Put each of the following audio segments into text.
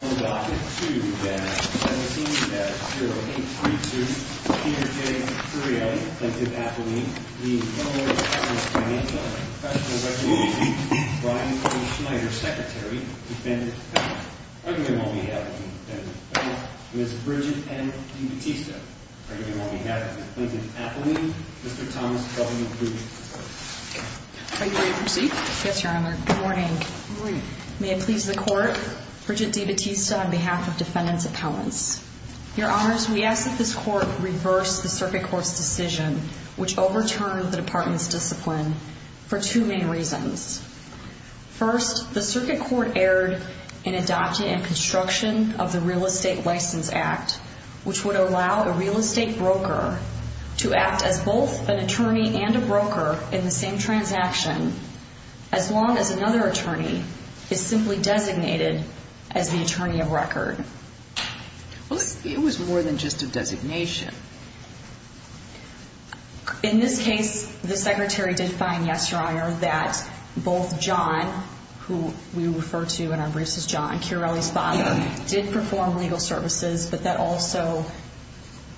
On Docket 2-17-0832, Peter J. Curielli, Plaintiff Appellee, v. Illinois Department of Financial Regulation, Brian O. Schneider, Secretary, Defendant Appellee. Arguing on behalf of the Defendant Appellee, Ms. Bridget M. DeBattista. Arguing on behalf of the Plaintiff Appellee, Mr. Thomas W. Bluth. Are you ready to proceed? Yes, Your Honor. Good morning. Good morning. May it please the Court, Bridget DeBattista on behalf of Defendant's Appellants. Your Honors, we ask that this Court reverse the Circuit Court's decision which overturned the Department's discipline for two main reasons. First, the Circuit Court erred in adopting and construction of the Real Estate License Act, which would allow a real estate broker to act as both an attorney and a broker in the same transaction, as long as another attorney is simply designated as the attorney of record. It was more than just a designation. In this case, the Secretary did find, yes, Your Honor, that both John, who we refer to in our briefs as John, Curielli's father, did perform legal services, but that also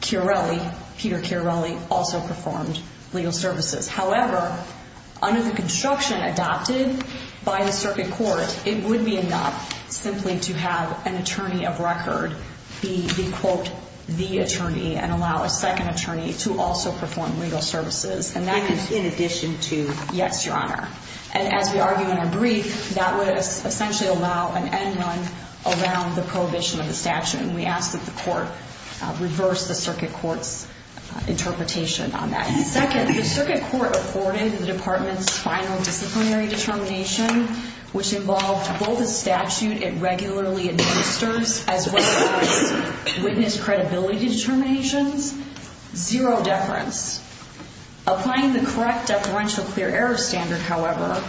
Curielli, Peter Curielli, also performed legal services. However, under the construction adopted by the Circuit Court, it would be enough simply to have an attorney of record be, quote, the attorney and allow a second attorney to also perform legal services. And that is in addition to, yes, Your Honor. And as we argue in our brief, that would essentially allow an end run around the prohibition of the statute. And we ask that the Court reverse the Circuit Court's interpretation on that. Second, the Circuit Court afforded the Department's final disciplinary determination, which involved both a statute it regularly administers as well as witness credibility determinations, zero deference. Applying the correct deferential clear error standard, however,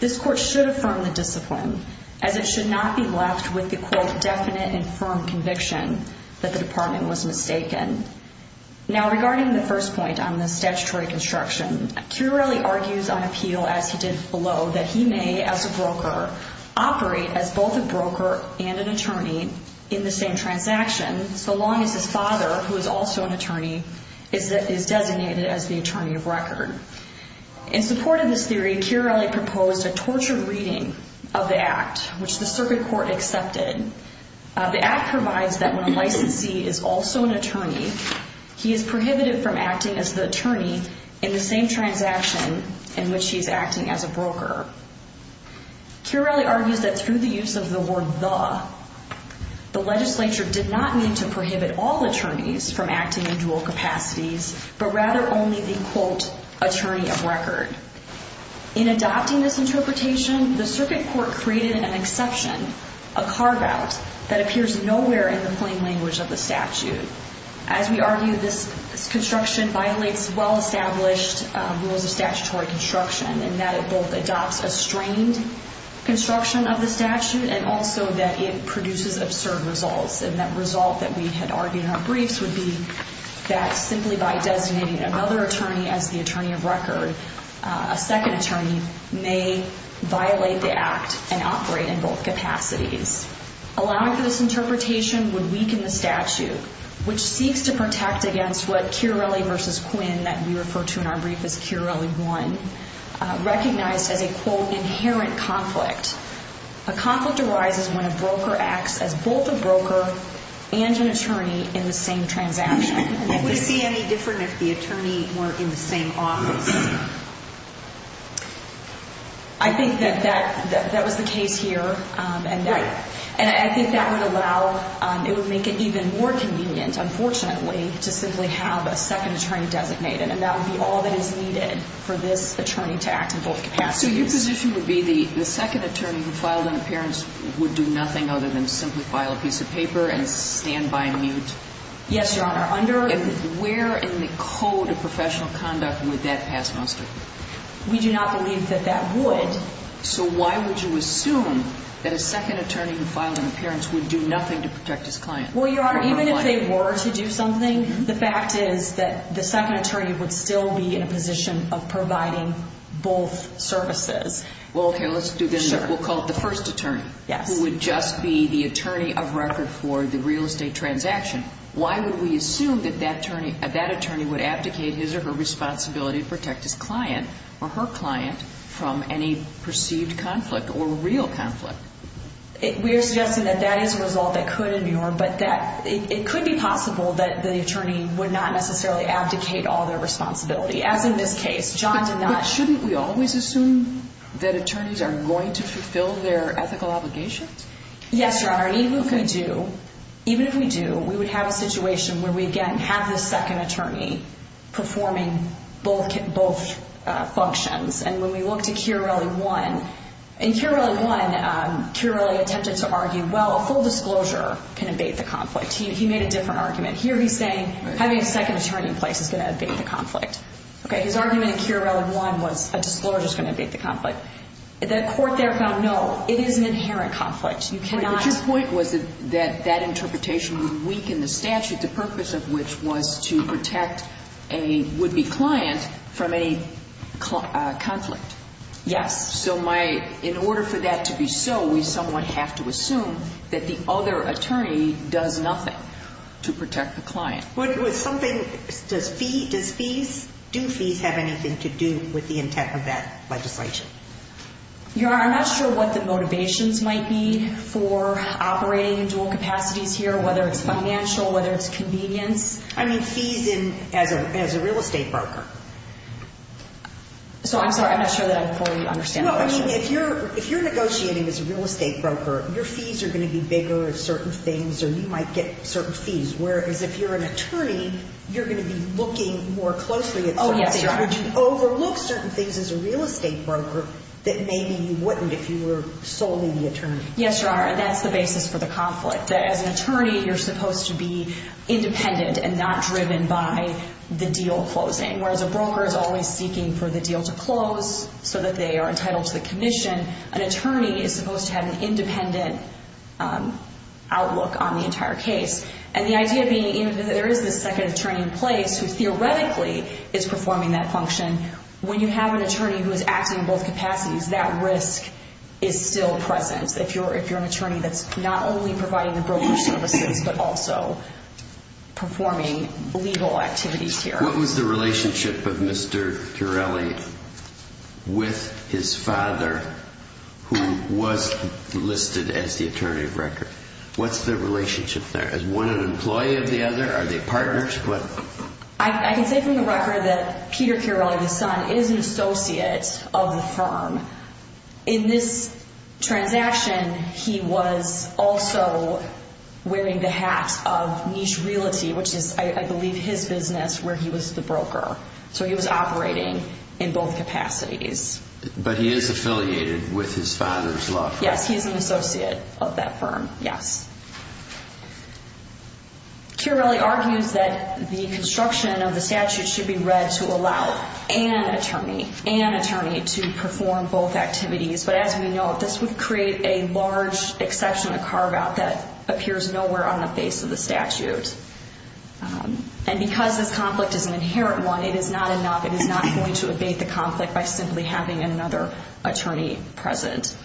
this Court should affirm the discipline, as it should not be left with the, quote, definite and firm conviction that the Department was mistaken. Now, regarding the first point on the statutory construction, Curielli argues on appeal, as he did below, that he may, as a broker, operate as both a broker and an attorney in the same transaction, so long as his father, who is also an attorney, is designated as the attorney of record. In support of this theory, Curielli proposed a torture reading of the Act, which the Circuit Court accepted. The Act provides that when a licensee is also an attorney, he is prohibited from acting as the attorney in the same transaction in which he is acting as a broker. Curielli argues that through the use of the word the, the legislature did not mean to prohibit all attorneys from acting in dual capacities, but rather only the, quote, attorney of record. In adopting this interpretation, the Circuit Court created an exception, a carve-out, that appears nowhere in the plain language of the statute. As we argue, this construction violates well-established rules of statutory construction, in that it both adopts a strained construction of the statute, and also that it produces absurd results. And that result that we had argued in our briefs would be that simply by designating another attorney as the attorney of record, a second attorney may violate the Act and operate in both capacities. Allowing for this interpretation would weaken the statute, which seeks to protect against what Curielli versus Quinn, that we refer to in our brief as Curielli 1, recognized as a, quote, inherent conflict. A conflict arises when a broker acts as both a broker and an attorney in the same transaction. Would it be any different if the attorney were in the same office? I think that that, that was the case here, and that, and I think that would allow, it would make it even more convenient, unfortunately, to simply have a second attorney designated, and that would be all that is needed for this attorney to act in both capacities. So your position would be the second attorney who filed an appearance would do nothing other than simply file a piece of paper and stand by and mute? Yes, Your Honor. Under where in the code of professional conduct would that pass muster? We do not believe that that would. So why would you assume that a second attorney who filed an appearance would do nothing to protect his client? Well, Your Honor, even if they were to do something, the fact is that the second attorney would still be in a position of providing both services. Well, okay, let's do this. We'll call it the first attorney who would just be the attorney of record for the real estate transaction. Why would we assume that that attorney would abdicate his or her responsibility to protect his client or her client from any perceived conflict or real conflict? We are suggesting that that is a result that could endure, but it could be possible that the attorney would not necessarily abdicate all their responsibility, as in this case. John did not. But shouldn't we always assume that attorneys are going to fulfill their ethical obligations? Yes, Your Honor, and even if we do, we would have a situation where we, again, have the second attorney performing both functions. And when we look to Chiarelli 1, in Chiarelli 1, Chiarelli attempted to argue, well, a full disclosure can abate the conflict. He made a different argument. Here he's saying having a second attorney in place is going to abate the conflict. Okay, his argument in Chiarelli 1 was a disclosure is going to abate the conflict. The court there found, no, it is an inherent conflict. But your point was that that interpretation would weaken the statute, the purpose of which was to protect a would-be client from any conflict. Yes. So in order for that to be so, we somewhat have to assume that the other attorney does nothing to protect the client. Does fees, do fees have anything to do with the intent of that legislation? Your Honor, I'm not sure what the motivations might be for operating in dual capacities here, whether it's financial, whether it's convenience. I mean fees as a real estate broker. So I'm sorry, I'm not sure that I fully understand the question. Well, I mean, if you're negotiating as a real estate broker, your fees are going to be bigger at certain things, or you might get certain fees, whereas if you're an attorney, you're going to be looking more closely at certain things. Oh, yes, Your Honor. Would you overlook certain things as a real estate broker that maybe you wouldn't if you were solely the attorney? Yes, Your Honor, and that's the basis for the conflict. As an attorney, you're supposed to be independent and not driven by the deal closing, whereas a broker is always seeking for the deal to close so that they are entitled to the commission. An attorney is supposed to have an independent outlook on the entire case. And the idea being that there is this second attorney in place who theoretically is performing that function. When you have an attorney who is acting in both capacities, that risk is still present. If you're an attorney that's not only providing the broker services but also performing legal activities here. What was the relationship of Mr. Chiarelli with his father who was listed as the attorney of record? What's the relationship there? Is one an employee of the other? Are they partners? I can say from the record that Peter Chiarelli, the son, is an associate of the firm. In this transaction, he was also wearing the hat of niche realty, which is, I believe, his business where he was the broker. So he was operating in both capacities. But he is affiliated with his father's law firm. Yes, he is an associate of that firm. Yes. Chiarelli argues that the construction of the statute should be read to allow an attorney, an attorney to perform both activities. But as we know, this would create a large exception, a carve out that appears nowhere on the face of the statute. And because this conflict is an inherent one, it is not enough. By simply having another attorney present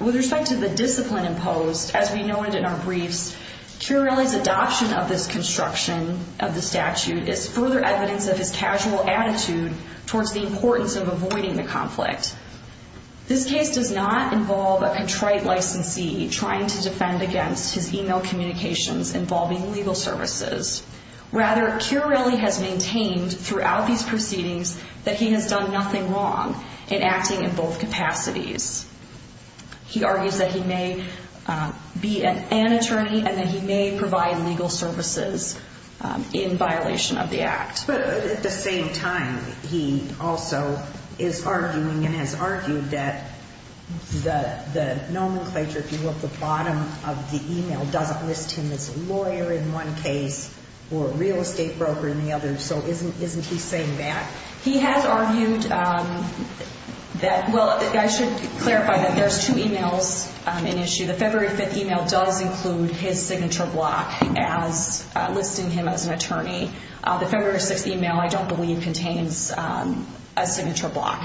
with respect to the discipline imposed, as we noted in our briefs, Chiarelli's adoption of this construction of the statute is further evidence of his casual attitude towards the importance of avoiding the conflict. This case does not involve a contrite licensee trying to defend against his email communications involving legal services. Rather, Chiarelli has maintained throughout these proceedings that he has done nothing wrong in acting in both capacities. He argues that he may be an attorney and that he may provide legal services in violation of the act. But at the same time, he also is arguing and has argued that the nomenclature, if you look at the bottom of the email, doesn't list him as a lawyer in one case or a real estate broker in the other. So isn't he saying that? He has argued that, well, I should clarify that there's two emails in issue. The February 5th email does include his signature block as listing him as an attorney. The February 6th email, I don't believe, contains a signature block.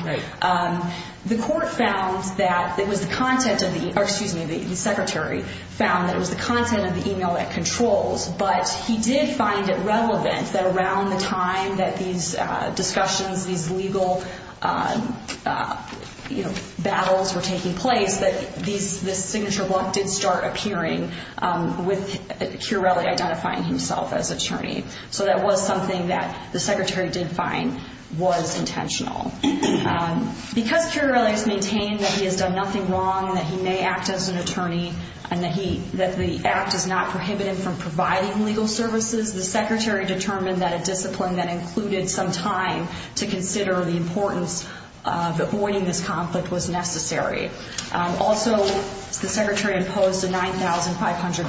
The court found that it was the content of the email, or excuse me, the secretary found that it was the content of the email that controls. But he did find it relevant that around the time that these discussions, these legal battles were taking place, that this signature block did start appearing with Chiarelli identifying himself as attorney. So that was something that the secretary did find was intentional. Because Chiarelli has maintained that he has done nothing wrong, that he may act as an attorney, and that the act is not prohibited from providing legal services, the secretary determined that a discipline that included some time to consider the importance of avoiding this conflict was necessary. Also, the secretary imposed a $9,500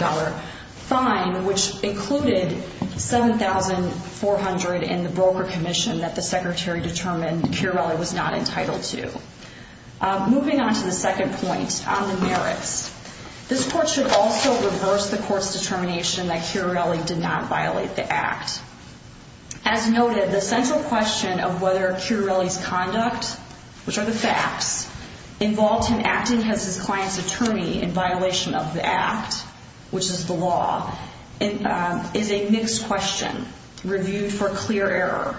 fine, which included $7,400 in the broker commission that the secretary determined Chiarelli was not entitled to. Moving on to the second point, on the merits. This court should also reverse the court's determination that Chiarelli did not violate the act. As noted, the central question of whether Chiarelli's conduct, which are the facts, involved him acting as his client's attorney in violation of the act, which is the law, is a mixed question reviewed for clear error.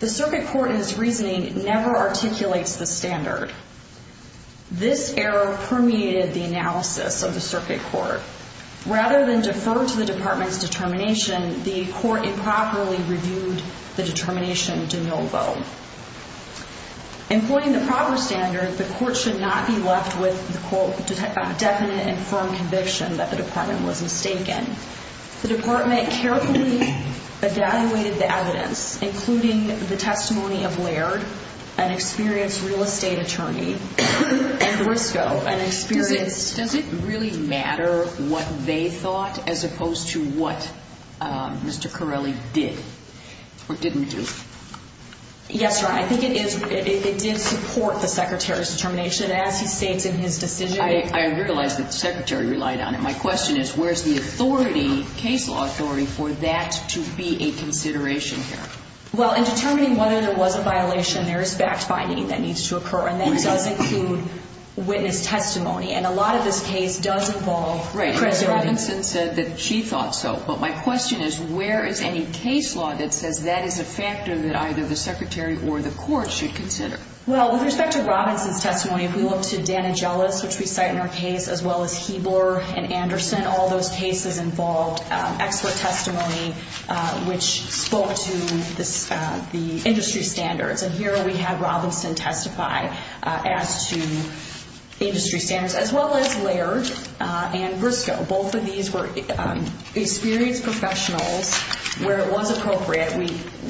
The circuit court in its reasoning never articulates the standard. This error permeated the analysis of the circuit court. Rather than defer to the department's determination, the court improperly reviewed the determination de novo. Employing the proper standard, the court should not be left with the, quote, definite and firm conviction that the department was mistaken. The department carefully evaluated the evidence, including the testimony of Laird, an experienced real estate attorney, and Briscoe, an experienced... Does it really matter what they thought as opposed to what Mr. Chiarelli did or didn't do? Yes, Your Honor, I think it is. It did support the secretary's determination as he states in his decision. I realize that the secretary relied on it. My question is, where's the authority, case law authority, for that to be a consideration here? Well, in determining whether there was a violation, there is fact-finding that needs to occur, and that does include witness testimony, and a lot of this case does involve... Right, Ms. Robinson said that she thought so, but my question is, where is any case law that says that is a factor that either the secretary or the court should consider? Well, with respect to Robinson's testimony, if we look to Dana Jealous, which we cite in her case, as well as Hebler and Anderson, all those cases involved expert testimony which spoke to the industry standards, and here we have Robinson testify as to industry standards, as well as Laird and Briscoe. Both of these were experienced professionals where it was appropriate.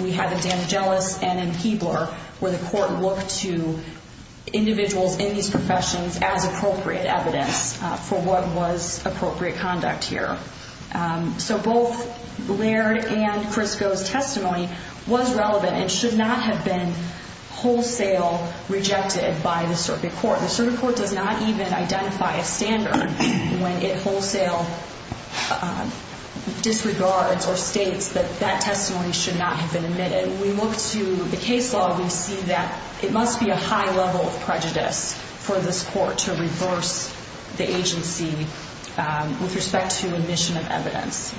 We have it in Dana Jealous and in Hebler where the court looked to individuals in these professions as appropriate evidence for what was appropriate conduct here. So both Laird and Briscoe's testimony was relevant and should not have been wholesale rejected by the circuit court. The circuit court does not even identify a standard when it wholesale disregards or states that that testimony should not have been admitted. When we look to the case law, we see that it must be a high level of prejudice for this court to reverse the agency with respect to admission of evidence.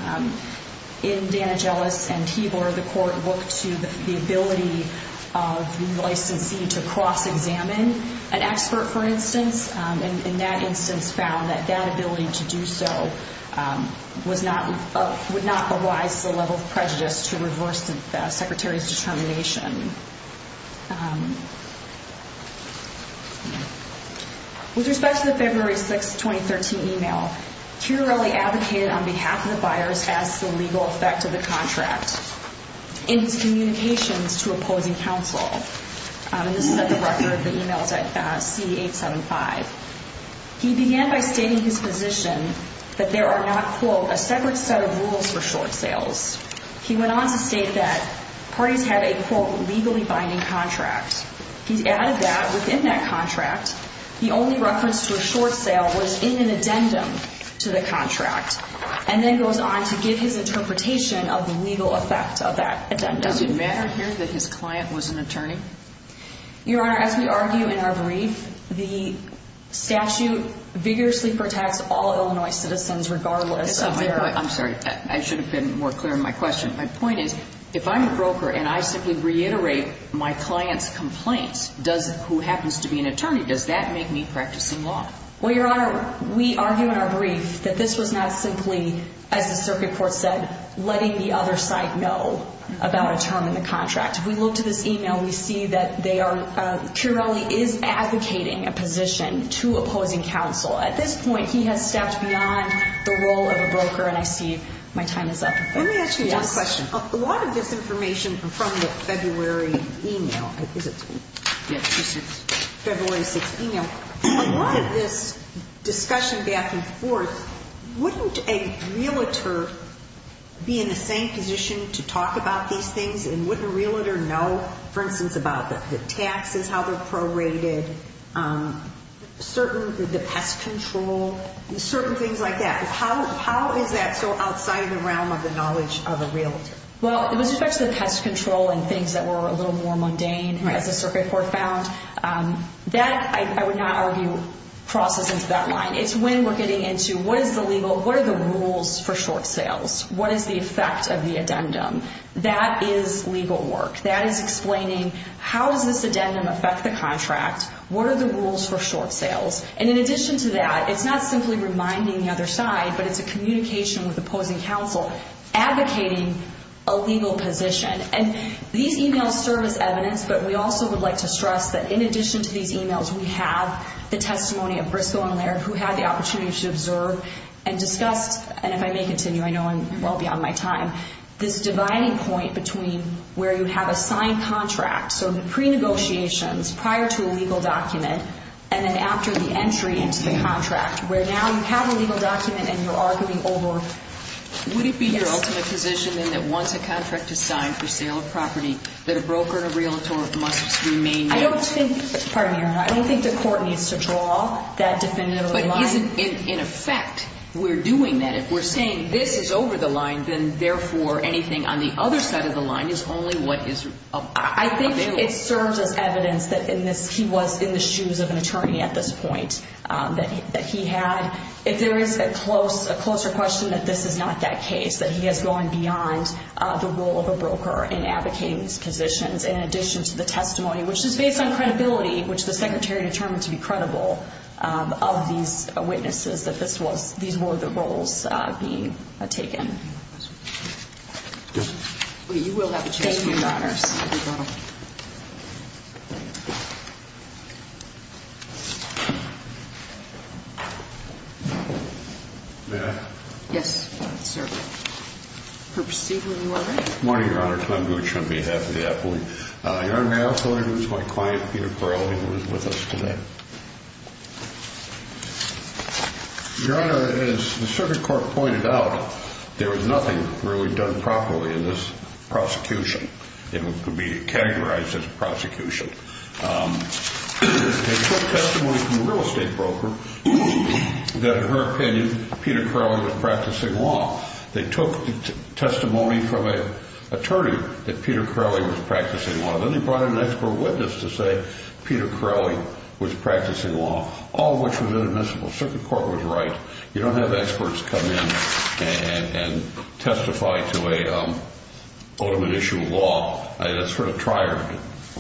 In Dana Jealous and Hebler, the court looked to the ability of the licensee to cross-examine an expert, for instance, and in that instance found that that ability to do so would not arise the level of prejudice to reverse the secretary's determination. With respect to the February 6, 2013 email, Chiarelli advocated on behalf of the buyers as to the legal effect of the contract in his communications to opposing counsel. This is at the record of the emails at C875. He began by stating his position that there are not, quote, a separate set of rules for short sales. He went on to state that parties have a, quote, legally binding contract. He added that within that contract, the only reference to a short sale was in an addendum to the contract and then goes on to give his interpretation of the legal effect of that addendum. Does it matter here that his client was an attorney? Your Honor, as we argue in our brief, the statute vigorously protects all Illinois citizens regardless of their… I'm sorry, I should have been more clear in my question. My point is if I'm a broker and I simply reiterate my client's complaints, who happens to be an attorney, does that make me practicing law? Well, Your Honor, we argue in our brief that this was not simply, as the circuit court said, letting the other side know about a term in the contract. If we look to this email, we see that Chiarelli is advocating a position to opposing counsel. At this point, he has stepped beyond the role of a broker, and I see my time is up. Let me ask you another question. A lot of this information from the February email, February 6th email, a lot of this discussion back and forth, wouldn't a realtor be in the same position to talk about these things and wouldn't a realtor know, for instance, about the taxes, how they're prorated, certain, the pest control, certain things like that. How is that so outside of the realm of the knowledge of a realtor? Well, with respect to the pest control and things that were a little more mundane as the circuit court found, that, I would not argue, crosses into that line. It's when we're getting into what is the legal, what are the rules for short sales, what is the effect of the addendum, that is legal work. That is explaining how does this addendum affect the contract, what are the rules for short sales. And in addition to that, it's not simply reminding the other side, but it's a communication with opposing counsel advocating a legal position. And these emails serve as evidence, but we also would like to stress that in addition to these emails, we have the testimony of Briscoe and Laird, who had the opportunity to observe and discuss, and if I may continue, I know I'm well beyond my time, this dividing point between where you have a signed contract, so the pre-negotiations prior to a legal document, and then after the entry into the contract, where now you have a legal document and you're arguing over... Would it be your ultimate position, then, that once a contract is signed for sale of property, that a broker and a realtor must remain... I don't think, pardon me, Your Honor, I don't think the court needs to draw that definitive line. In effect, we're doing that. If we're saying this is over the line, then, therefore, anything on the other side of the line is only what is available. I think it serves as evidence that he was in the shoes of an attorney at this point, that he had. If there is a closer question, that this is not that case, that he has gone beyond the role of a broker in advocating these positions, which the Secretary determined to be credible of these witnesses, that these were the roles being taken. You will have a chance to speak. Thank you, Your Honors. May I? Yes, sir. Perp Stegall, you are right. Good morning, Your Honor. Tom Gutsch on behalf of the appellee. Your Honor, may I also introduce my client, Peter Crowley, who is with us today? Your Honor, as the circuit court pointed out, there was nothing really done properly in this prosecution. It would be categorized as a prosecution. They took testimony from a real estate broker that, in her opinion, Peter Crowley was practicing law. They took testimony from an attorney that Peter Crowley was practicing law. Then they brought in an expert witness to say Peter Crowley was practicing law, all of which was inadmissible. Circuit court was right. You don't have experts come in and testify to an ultimate issue of law. That's for a trier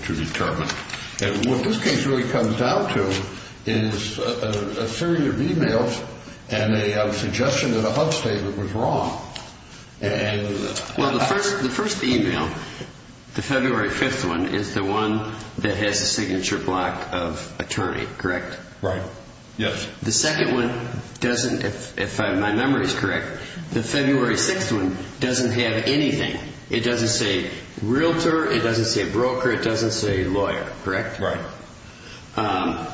to determine. What this case really comes down to is a series of e-mails and a suggestion that a HUD statement was wrong. The first e-mail, the February 5th one, is the one that has the signature block of attorney, correct? Right. Yes. The second one doesn't, if my memory is correct, the February 6th one doesn't have anything. It doesn't say realtor, it doesn't say broker, it doesn't say lawyer, correct? Right.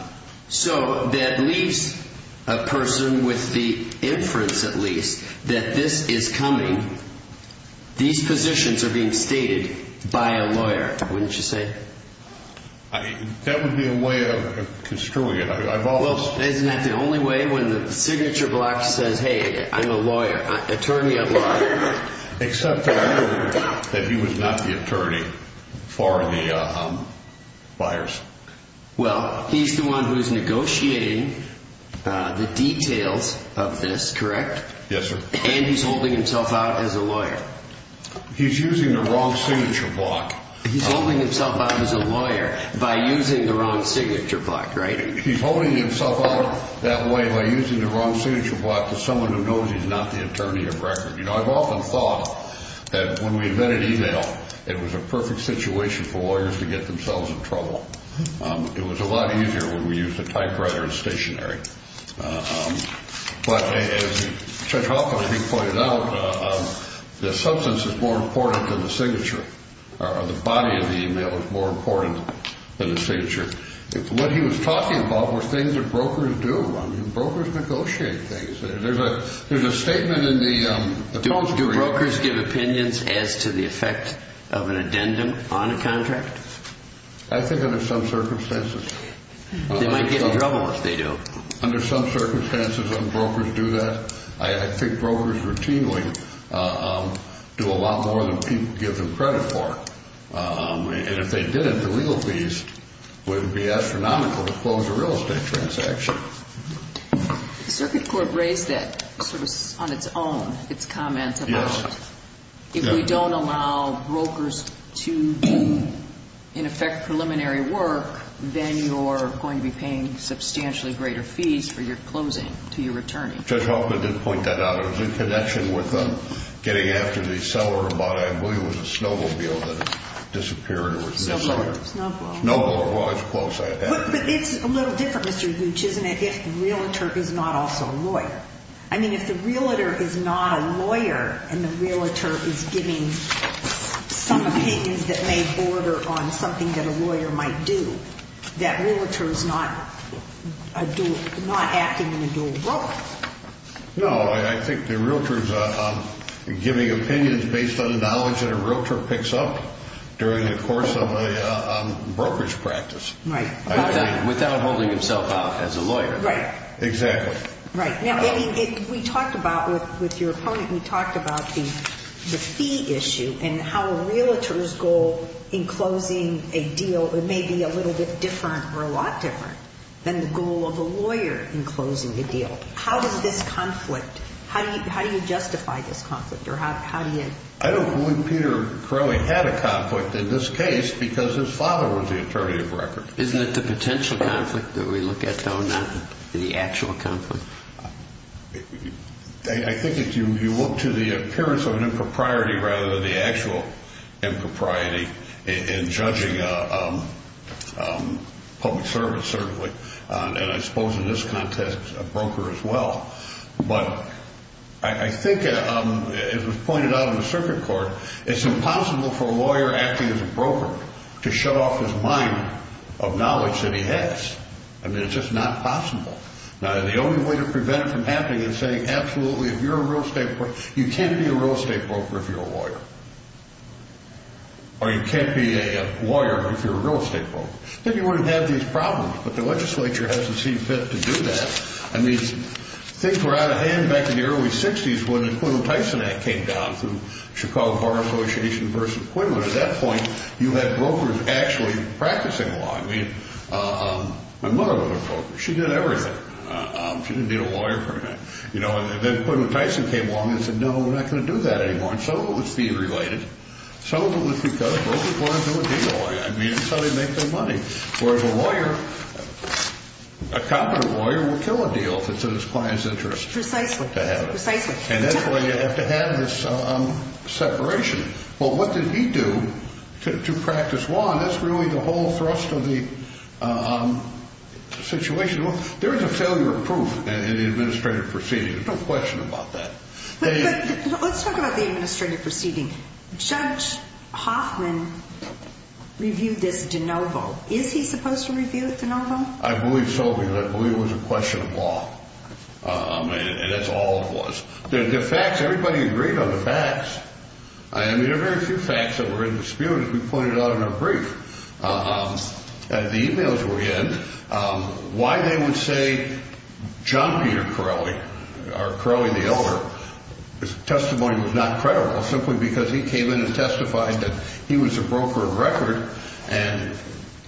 So that leaves a person with the inference, at least, that this is coming. These positions are being stated by a lawyer, wouldn't you say? That would be a way of construing it. Well, isn't that the only way? When the signature block says, hey, I'm a lawyer, attorney of law. Except that I heard that he was not the attorney for the buyers. Well, he's the one who's negotiating the details of this, correct? Yes, sir. And he's holding himself out as a lawyer. He's using the wrong signature block. He's holding himself out as a lawyer by using the wrong signature block, right? He's holding himself out that way by using the wrong signature block to someone who knows he's not the attorney of record. You know, I've often thought that when we invented e-mail, it was a perfect situation for lawyers to get themselves in trouble. It was a lot easier when we used a typewriter and stationery. But as Judge Hoffman, I think, pointed out, the substance is more important than the signature, or the body of the e-mail is more important than the signature. What he was talking about were things that brokers do. I mean, brokers negotiate things. There's a statement in the court. Do brokers give opinions as to the effect of an addendum on a contract? I think under some circumstances. They might get in trouble if they do. Under some circumstances, brokers do that. I think brokers routinely do a lot more than people give them credit for. And if they didn't, the legal beast would be astronomical to close a real estate transaction. The Circuit Court raised that sort of on its own, its comments about if we don't allow brokers to, in effect, preliminary work, then you're going to be paying substantially greater fees for your closing to your attorney. Judge Hoffman did point that out. It was in connection with getting after the seller about, I believe, it was a snowmobile that disappeared or was missing. Snow globe. Snow globe. Well, it's close. But it's a little different, Mr. Vooch, isn't it, if the realtor is not also a lawyer? I mean, if the realtor is not a lawyer and the realtor is giving some opinions that may border on something that a lawyer might do, that realtor is not acting in a dual role. No, I think the realtor is giving opinions based on the knowledge that a realtor picks up during the course of a brokerage practice. Right. Without holding himself out as a lawyer. Right. Exactly. Right. Now, we talked about with your opponent, we talked about the fee issue and how a realtor's goal in closing a deal may be a little bit different or a lot different than the goal of a lawyer in closing the deal. How does this conflict, how do you justify this conflict or how do you? I don't believe Peter Crowley had a conflict in this case because his father was the attorney of record. Isn't it the potential conflict that we look at, though, not the actual conflict? I think if you look to the appearance of an impropriety rather than the actual impropriety in judging public service, certainly, and I suppose in this context a broker as well. But I think it was pointed out in the circuit court, it's impossible for a lawyer acting as a broker to shut off his mind of knowledge that he has. I mean, it's just not possible. Now, the only way to prevent it from happening is saying, absolutely, if you're a real estate broker, you can't be a real estate broker if you're a lawyer. Or you can't be a lawyer if you're a real estate broker. Then you wouldn't have these problems, but the legislature hasn't seemed fit to do that. I mean, things were out of hand back in the early 60s when the Quinlan Tyson Act came down through Chicago Bar Association versus Quinlan. At that point, you had brokers actually practicing law. I mean, my mother was a broker. She did everything. She didn't need a lawyer for that. And then Quinlan Tyson came along and said, no, we're not going to do that anymore. And some of it was fee-related. Some of it was because brokers wanted to be a lawyer. I mean, so they make their money. Whereas a lawyer, a competent lawyer will kill a deal if it's in his client's interest. Precisely. Precisely. And that's why you have to have this separation. Well, what did he do to practice law? And that's really the whole thrust of the situation. There is a failure of proof in the administrative proceeding. There's no question about that. Let's talk about the administrative proceeding. Judge Hoffman reviewed this de novo. Is he supposed to review it de novo? I believe so, because I believe it was a question of law. And that's all it was. The facts, everybody agreed on the facts. I mean, there are very few facts that were in dispute, as we pointed out in our brief. The e-mails were in. Why they would say John Peter Corelli, or Corelli the Elder, his testimony was not credible simply because he came in and testified that he was a broker of record and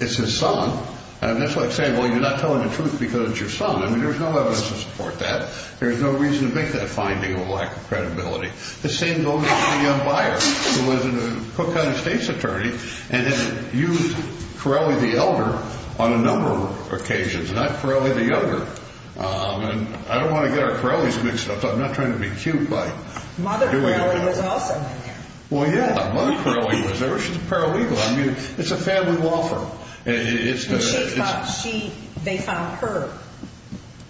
it's his son. And that's like saying, well, you're not telling the truth because it's your son. I mean, there's no evidence to support that. There's no reason to make that finding a lack of credibility. The same goes for the young buyer who was a Cook County State's attorney and then used Corelli the Elder on a number of occasions, not Corelli the Elder. And I don't want to get our Corellis mixed up. I'm not trying to be cute by doing that. Mother Corelli was also in there. Well, yeah, Mother Corelli was there. She's a paralegal. I mean, it's a family law firm. And they found her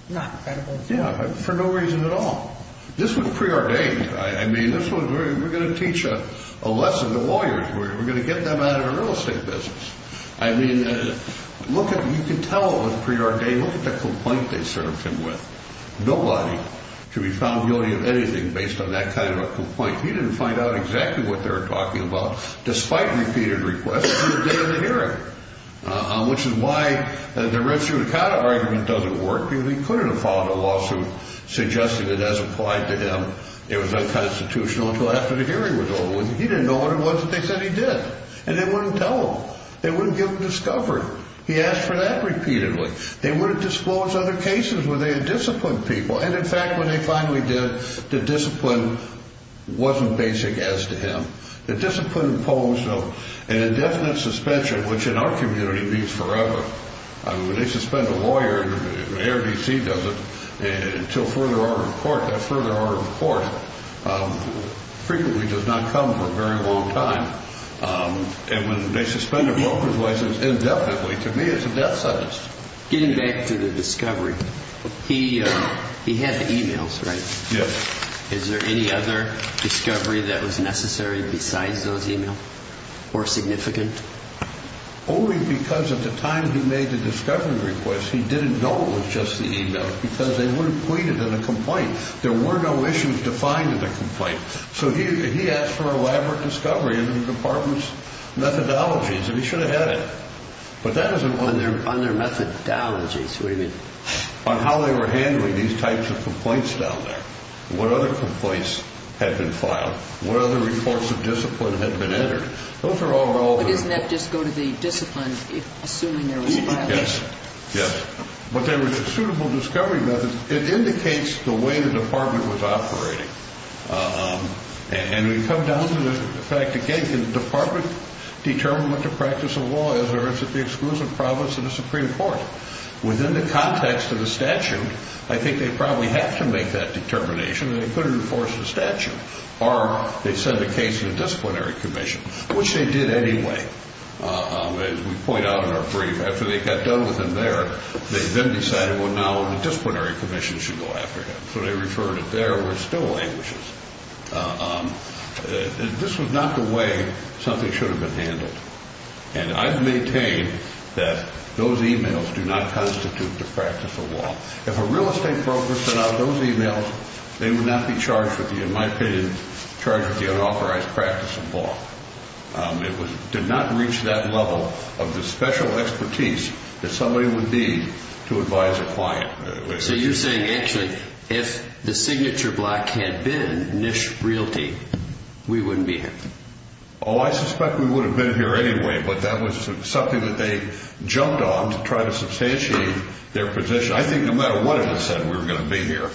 not credible. Yeah, for no reason at all. This was preordained. I mean, we're going to teach a lesson to lawyers. We're going to get them out of the real estate business. I mean, look at it. You can tell it was preordained. Look at the complaint they served him with. Nobody should be found guilty of anything based on that kind of a complaint. He didn't find out exactly what they were talking about, despite repeated requests, until the day of the hearing, which is why the Red Suicata argument doesn't work because he couldn't have filed a lawsuit suggesting that, as applied to him, it was unconstitutional until after the hearing was over. He didn't know what it was that they said he did. And they wouldn't tell him. They wouldn't give him discovery. He asked for that repeatedly. They would have disclosed other cases where they had disciplined people. And, in fact, when they finally did, the discipline wasn't basic as to him. The discipline imposed an indefinite suspension, which in our community means forever. I mean, when they suspend a lawyer, the ARDC does it until further order of court. Frequently does not come for a very long time. And when they suspend a broker's license indefinitely, to me it's a death sentence. Getting back to the discovery, he had the e-mails, right? Yes. Is there any other discovery that was necessary besides those e-mails or significant? Only because at the time he made the discovery request, he didn't know it was just the e-mails because they wouldn't point it in a complaint. There were no issues defined in the complaint. So he asked for an elaborate discovery of the department's methodologies, and he should have had it. But that isn't what he asked for. On their methodologies, what do you mean? On how they were handling these types of complaints down there. What other complaints had been filed? What other reports of discipline had been entered? Those are all there. But doesn't that just go to the discipline, assuming there was a problem? Yes. Yes. But there was a suitable discovery method. It indicates the way the department was operating. And we come down to the fact, again, can the department determine what the practice of law is, or is it the exclusive province of the Supreme Court? Within the context of the statute, I think they probably have to make that determination, and they could enforce the statute. Or they send a case to the disciplinary commission, which they did anyway. As we point out in our brief, after they got done with him there, they then decided, well, now the disciplinary commission should go after him. So they referred it there, where it still languishes. This was not the way something should have been handled. And I've maintained that those emails do not constitute the practice of law. If a real estate broker sent out those emails, they would not be charged with the, in my opinion, charged with the unauthorized practice of law. It did not reach that level of the special expertise that somebody would need to advise a client. So you're saying, actually, if the signature block had been Nish Realty, we wouldn't be here? Oh, I suspect we would have been here anyway, but that was something that they jumped on to try to substantiate their position. I think no matter what it had said, we were going to be here.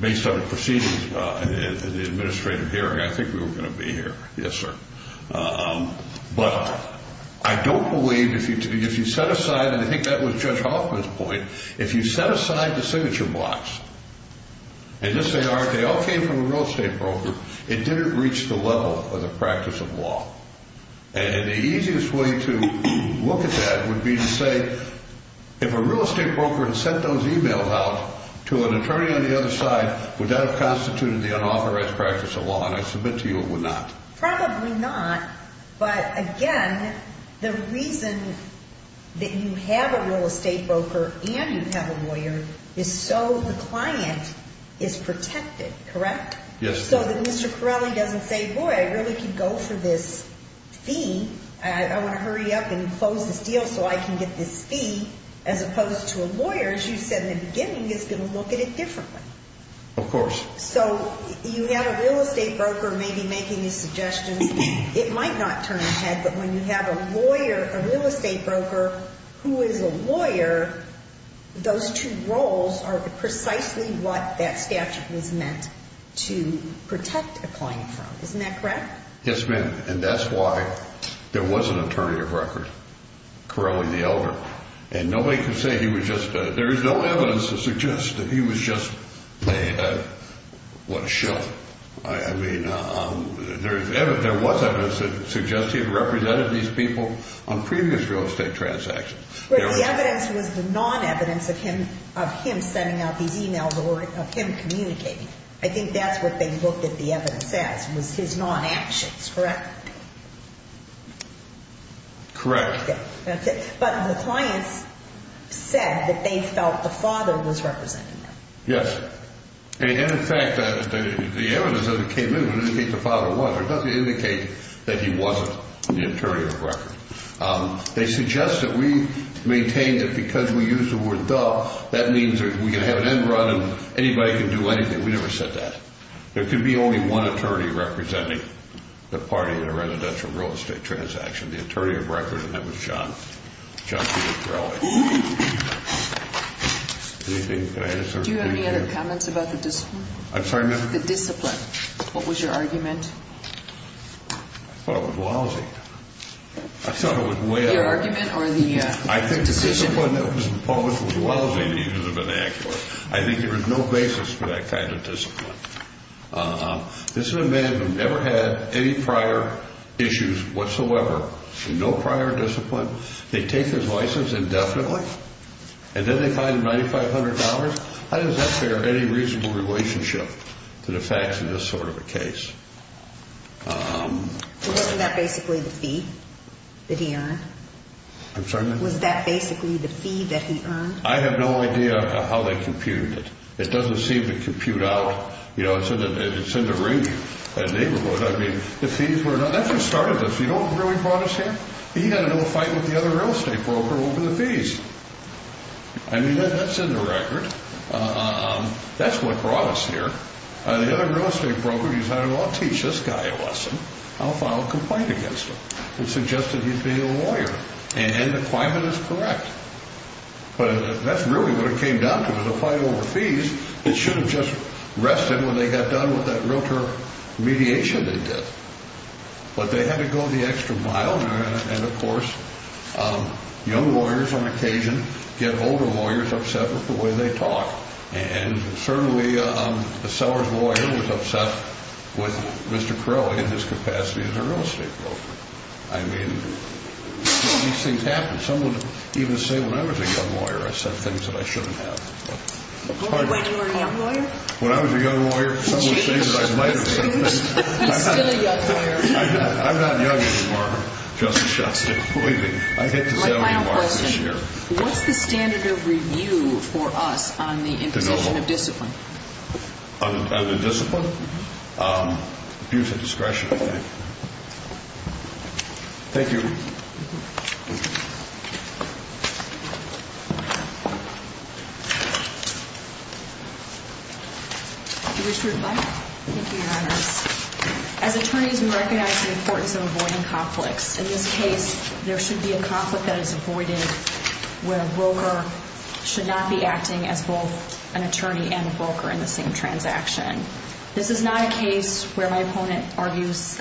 Based on the proceedings in the administrative hearing, I think we were going to be here. Yes, sir. But I don't believe if you set aside, and I think that was Judge Hoffman's point, if you set aside the signature blocks, and yes they are, they all came from a real estate broker, it didn't reach the level of the practice of law. And the easiest way to look at that would be to say, if a real estate broker had sent those emails out to an attorney on the other side, would that have constituted the unauthorized practice of law? And I submit to you it would not. Probably not, but again, the reason that you have a real estate broker and you have a lawyer is so the client is protected, correct? Yes, ma'am. But Mr. Corelli doesn't say, boy, I really could go for this fee, I want to hurry up and close this deal so I can get this fee, as opposed to a lawyer, as you said in the beginning, is going to look at it differently. Of course. So you have a real estate broker maybe making these suggestions, it might not turn a head, but when you have a lawyer, a real estate broker who is a lawyer, those two roles are precisely what that statute was meant to protect a client from. Isn't that correct? Yes, ma'am. And that's why there was an attorney of record, Corelli the elder, and nobody can say he was just a, there is no evidence to suggest that he was just a, what a show. I mean, there was evidence that suggested he represented these people on previous real estate transactions. But the evidence was the non-evidence of him sending out these e-mails or of him communicating. I think that's what they looked at the evidence as, was his non-actions, correct? Correct. But the clients said that they felt the father was representing them. Yes. And in fact, the evidence that came in would indicate the father was, but it doesn't indicate that he wasn't the attorney of record. They suggest that we maintain that because we use the word the, that means we can have an end run and anybody can do anything. We never said that. There could be only one attorney representing the party in a residential real estate transaction, the attorney of record, and that was John, John C. Corelli. Do you have any other comments about the discipline? I'm sorry, ma'am? The discipline. What was your argument? I thought it was lousy. I thought it was way out of line. Your argument or the decision? I think the discipline that was published was lousy to use of an accurate. I think there was no basis for that kind of discipline. This is a man who never had any prior issues whatsoever, no prior discipline. They take his license indefinitely and then they fine him $9,500. How does that bear any reasonable relationship to the facts of this sort of a case? Wasn't that basically the fee that he earned? I'm sorry, ma'am? Was that basically the fee that he earned? I have no idea how they computed it. It doesn't seem to compute out. You know, it's in the range of a neighborhood. I mean, the fees were not, that's what started this. You know what really brought us here? He had a little fight with the other real estate broker over the fees. I mean, that's in the record. That's what brought us here. The other real estate broker decided, well, I'll teach this guy a lesson. I'll file a complaint against him. It suggested he's being a lawyer. And the claimant is correct. But that's really what it came down to was a fight over fees. It should have just rested when they got done with that realtor mediation they did. But they had to go the extra mile. And, of course, young lawyers on occasion get older lawyers upset with the way they talk. And certainly a seller's lawyer was upset with Mr. Crowley in his capacity as a real estate broker. I mean, these things happen. Some would even say when I was a young lawyer I said things that I shouldn't have. When you were a young lawyer? When I was a young lawyer, some would say that I might have said things. He's still a young lawyer. I'm not young anymore. Justice Schuetz is leaving. I hit the salary mark this year. What's the standard of review for us on the imposition of discipline? On the discipline? Views of discretion, I think. Thank you. Do you wish to reply? Thank you, Your Honors. As attorneys, we recognize the importance of avoiding conflicts. In this case, there should be a conflict that is avoided where a broker should not be acting as both an attorney and a broker in the same transaction. This is not a case where my opponent argues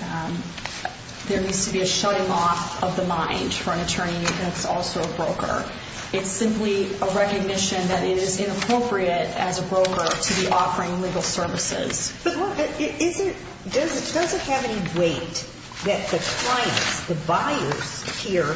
there needs to be a shutting off of the mind for an attorney that's also a broker. It's simply a recognition that it is inappropriate as a broker to be offering legal services. Does it have any weight that the clients, the buyers here,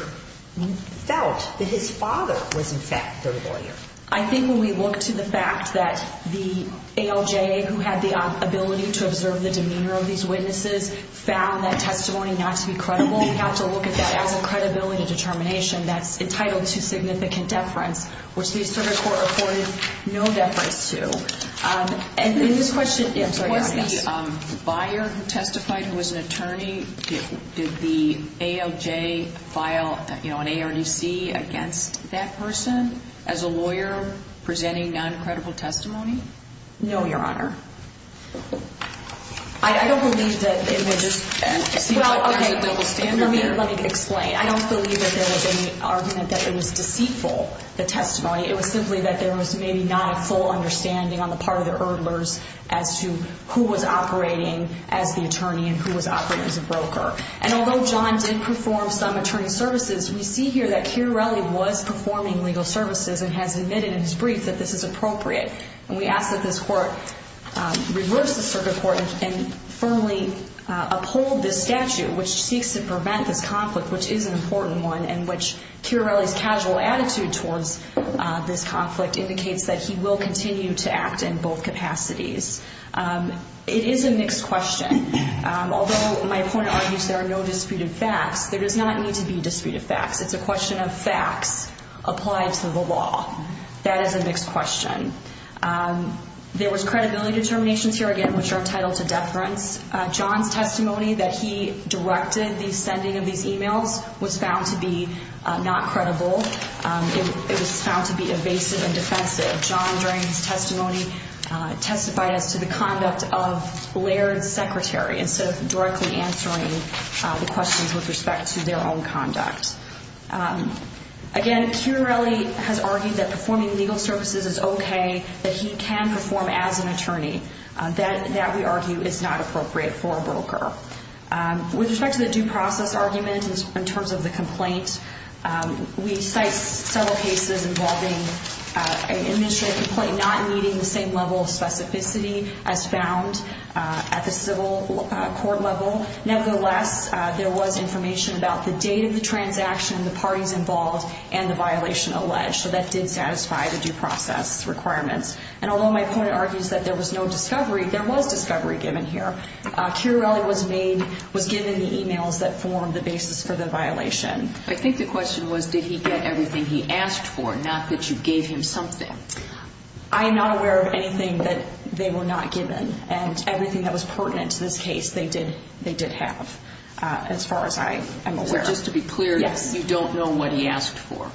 felt that his father was, in fact, their lawyer? I think when we look to the fact that the ALJA, who had the ability to observe the demeanor of these witnesses, found that testimony not to be credible, we have to look at that as a credibility determination that's entitled to significant deference, which the Associated Court reported no deference to. What's the buyer who testified who was an attorney? Did the ALJA file an ARDC against that person as a lawyer presenting non-credible testimony? No, Your Honor. Let me explain. I don't believe that there was any argument that it was deceitful, the testimony. It was simply that there was maybe not a full understanding on the part of the Erdlers as to who was operating as the attorney and who was operating as a broker. And although John did perform some attorney services, we see here that Chiarelli was performing legal services and has admitted in his brief that this is appropriate. And we ask that this Court reverse the circuit court and firmly uphold this statute, which seeks to prevent this conflict, which is an important one, and which Chiarelli's casual attitude towards this conflict indicates that he will continue to act in both capacities. It is a mixed question. Although my point argues there are no disputed facts, there does not need to be disputed facts. It's a question of facts applied to the law. That is a mixed question. There was credibility determinations here, again, which are entitled to deference. John's testimony that he directed the sending of these emails was found to be not credible. It was found to be evasive and defensive. John, during his testimony, testified as to the conduct of Laird's secretary instead of directly answering the questions with respect to their own conduct. Again, Chiarelli has argued that performing legal services is okay, that he can perform as an attorney. That, we argue, is not appropriate for a broker. With respect to the due process argument in terms of the complaint, we cite several cases involving an administrative complaint not meeting the same level of specificity as found at the civil court level. Nevertheless, there was information about the date of the transaction, the parties involved, and the violation alleged. That did satisfy the due process requirements. Although my point argues that there was no discovery, there was discovery given here. Chiarelli was given the emails that formed the basis for the violation. I think the question was, did he get everything he asked for, not that you gave him something? I am not aware of anything that they were not given. And everything that was pertinent to this case, they did have, as far as I am aware. So just to be clear, you don't know what he asked for?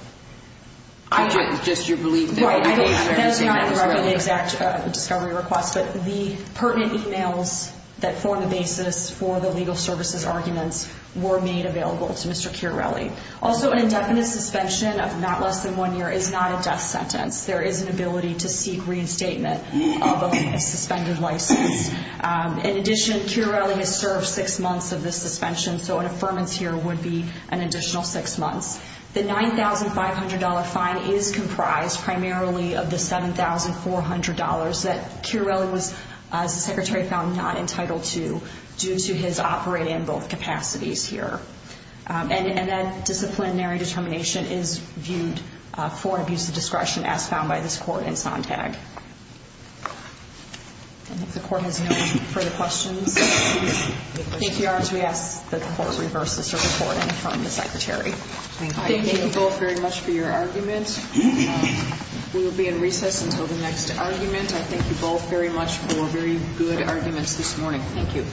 Just your belief that he had everything that Chiarelli asked for? Right, that is not part of the exact discovery request. But the pertinent emails that form the basis for the legal services arguments were made available to Mr. Chiarelli. Also, an indefinite suspension of not less than one year is not a death sentence. There is an ability to seek reinstatement of a suspended license. In addition, Chiarelli is served six months of this suspension, so an affirmance here would be an additional six months. The $9,500 fine is comprised primarily of the $7,400 that Chiarelli was, as the Secretary found, not entitled to due to his operating in both capacities here. And that disciplinary determination is viewed for abuse of discretion as found by this Court in Sontag. I think the Court has no further questions. If you are, we ask that the Court reverse the circuit court and confirm the Secretary. Thank you both very much for your arguments. We will be in recess until the next argument. I thank you both very much for very good arguments this morning. Thank you.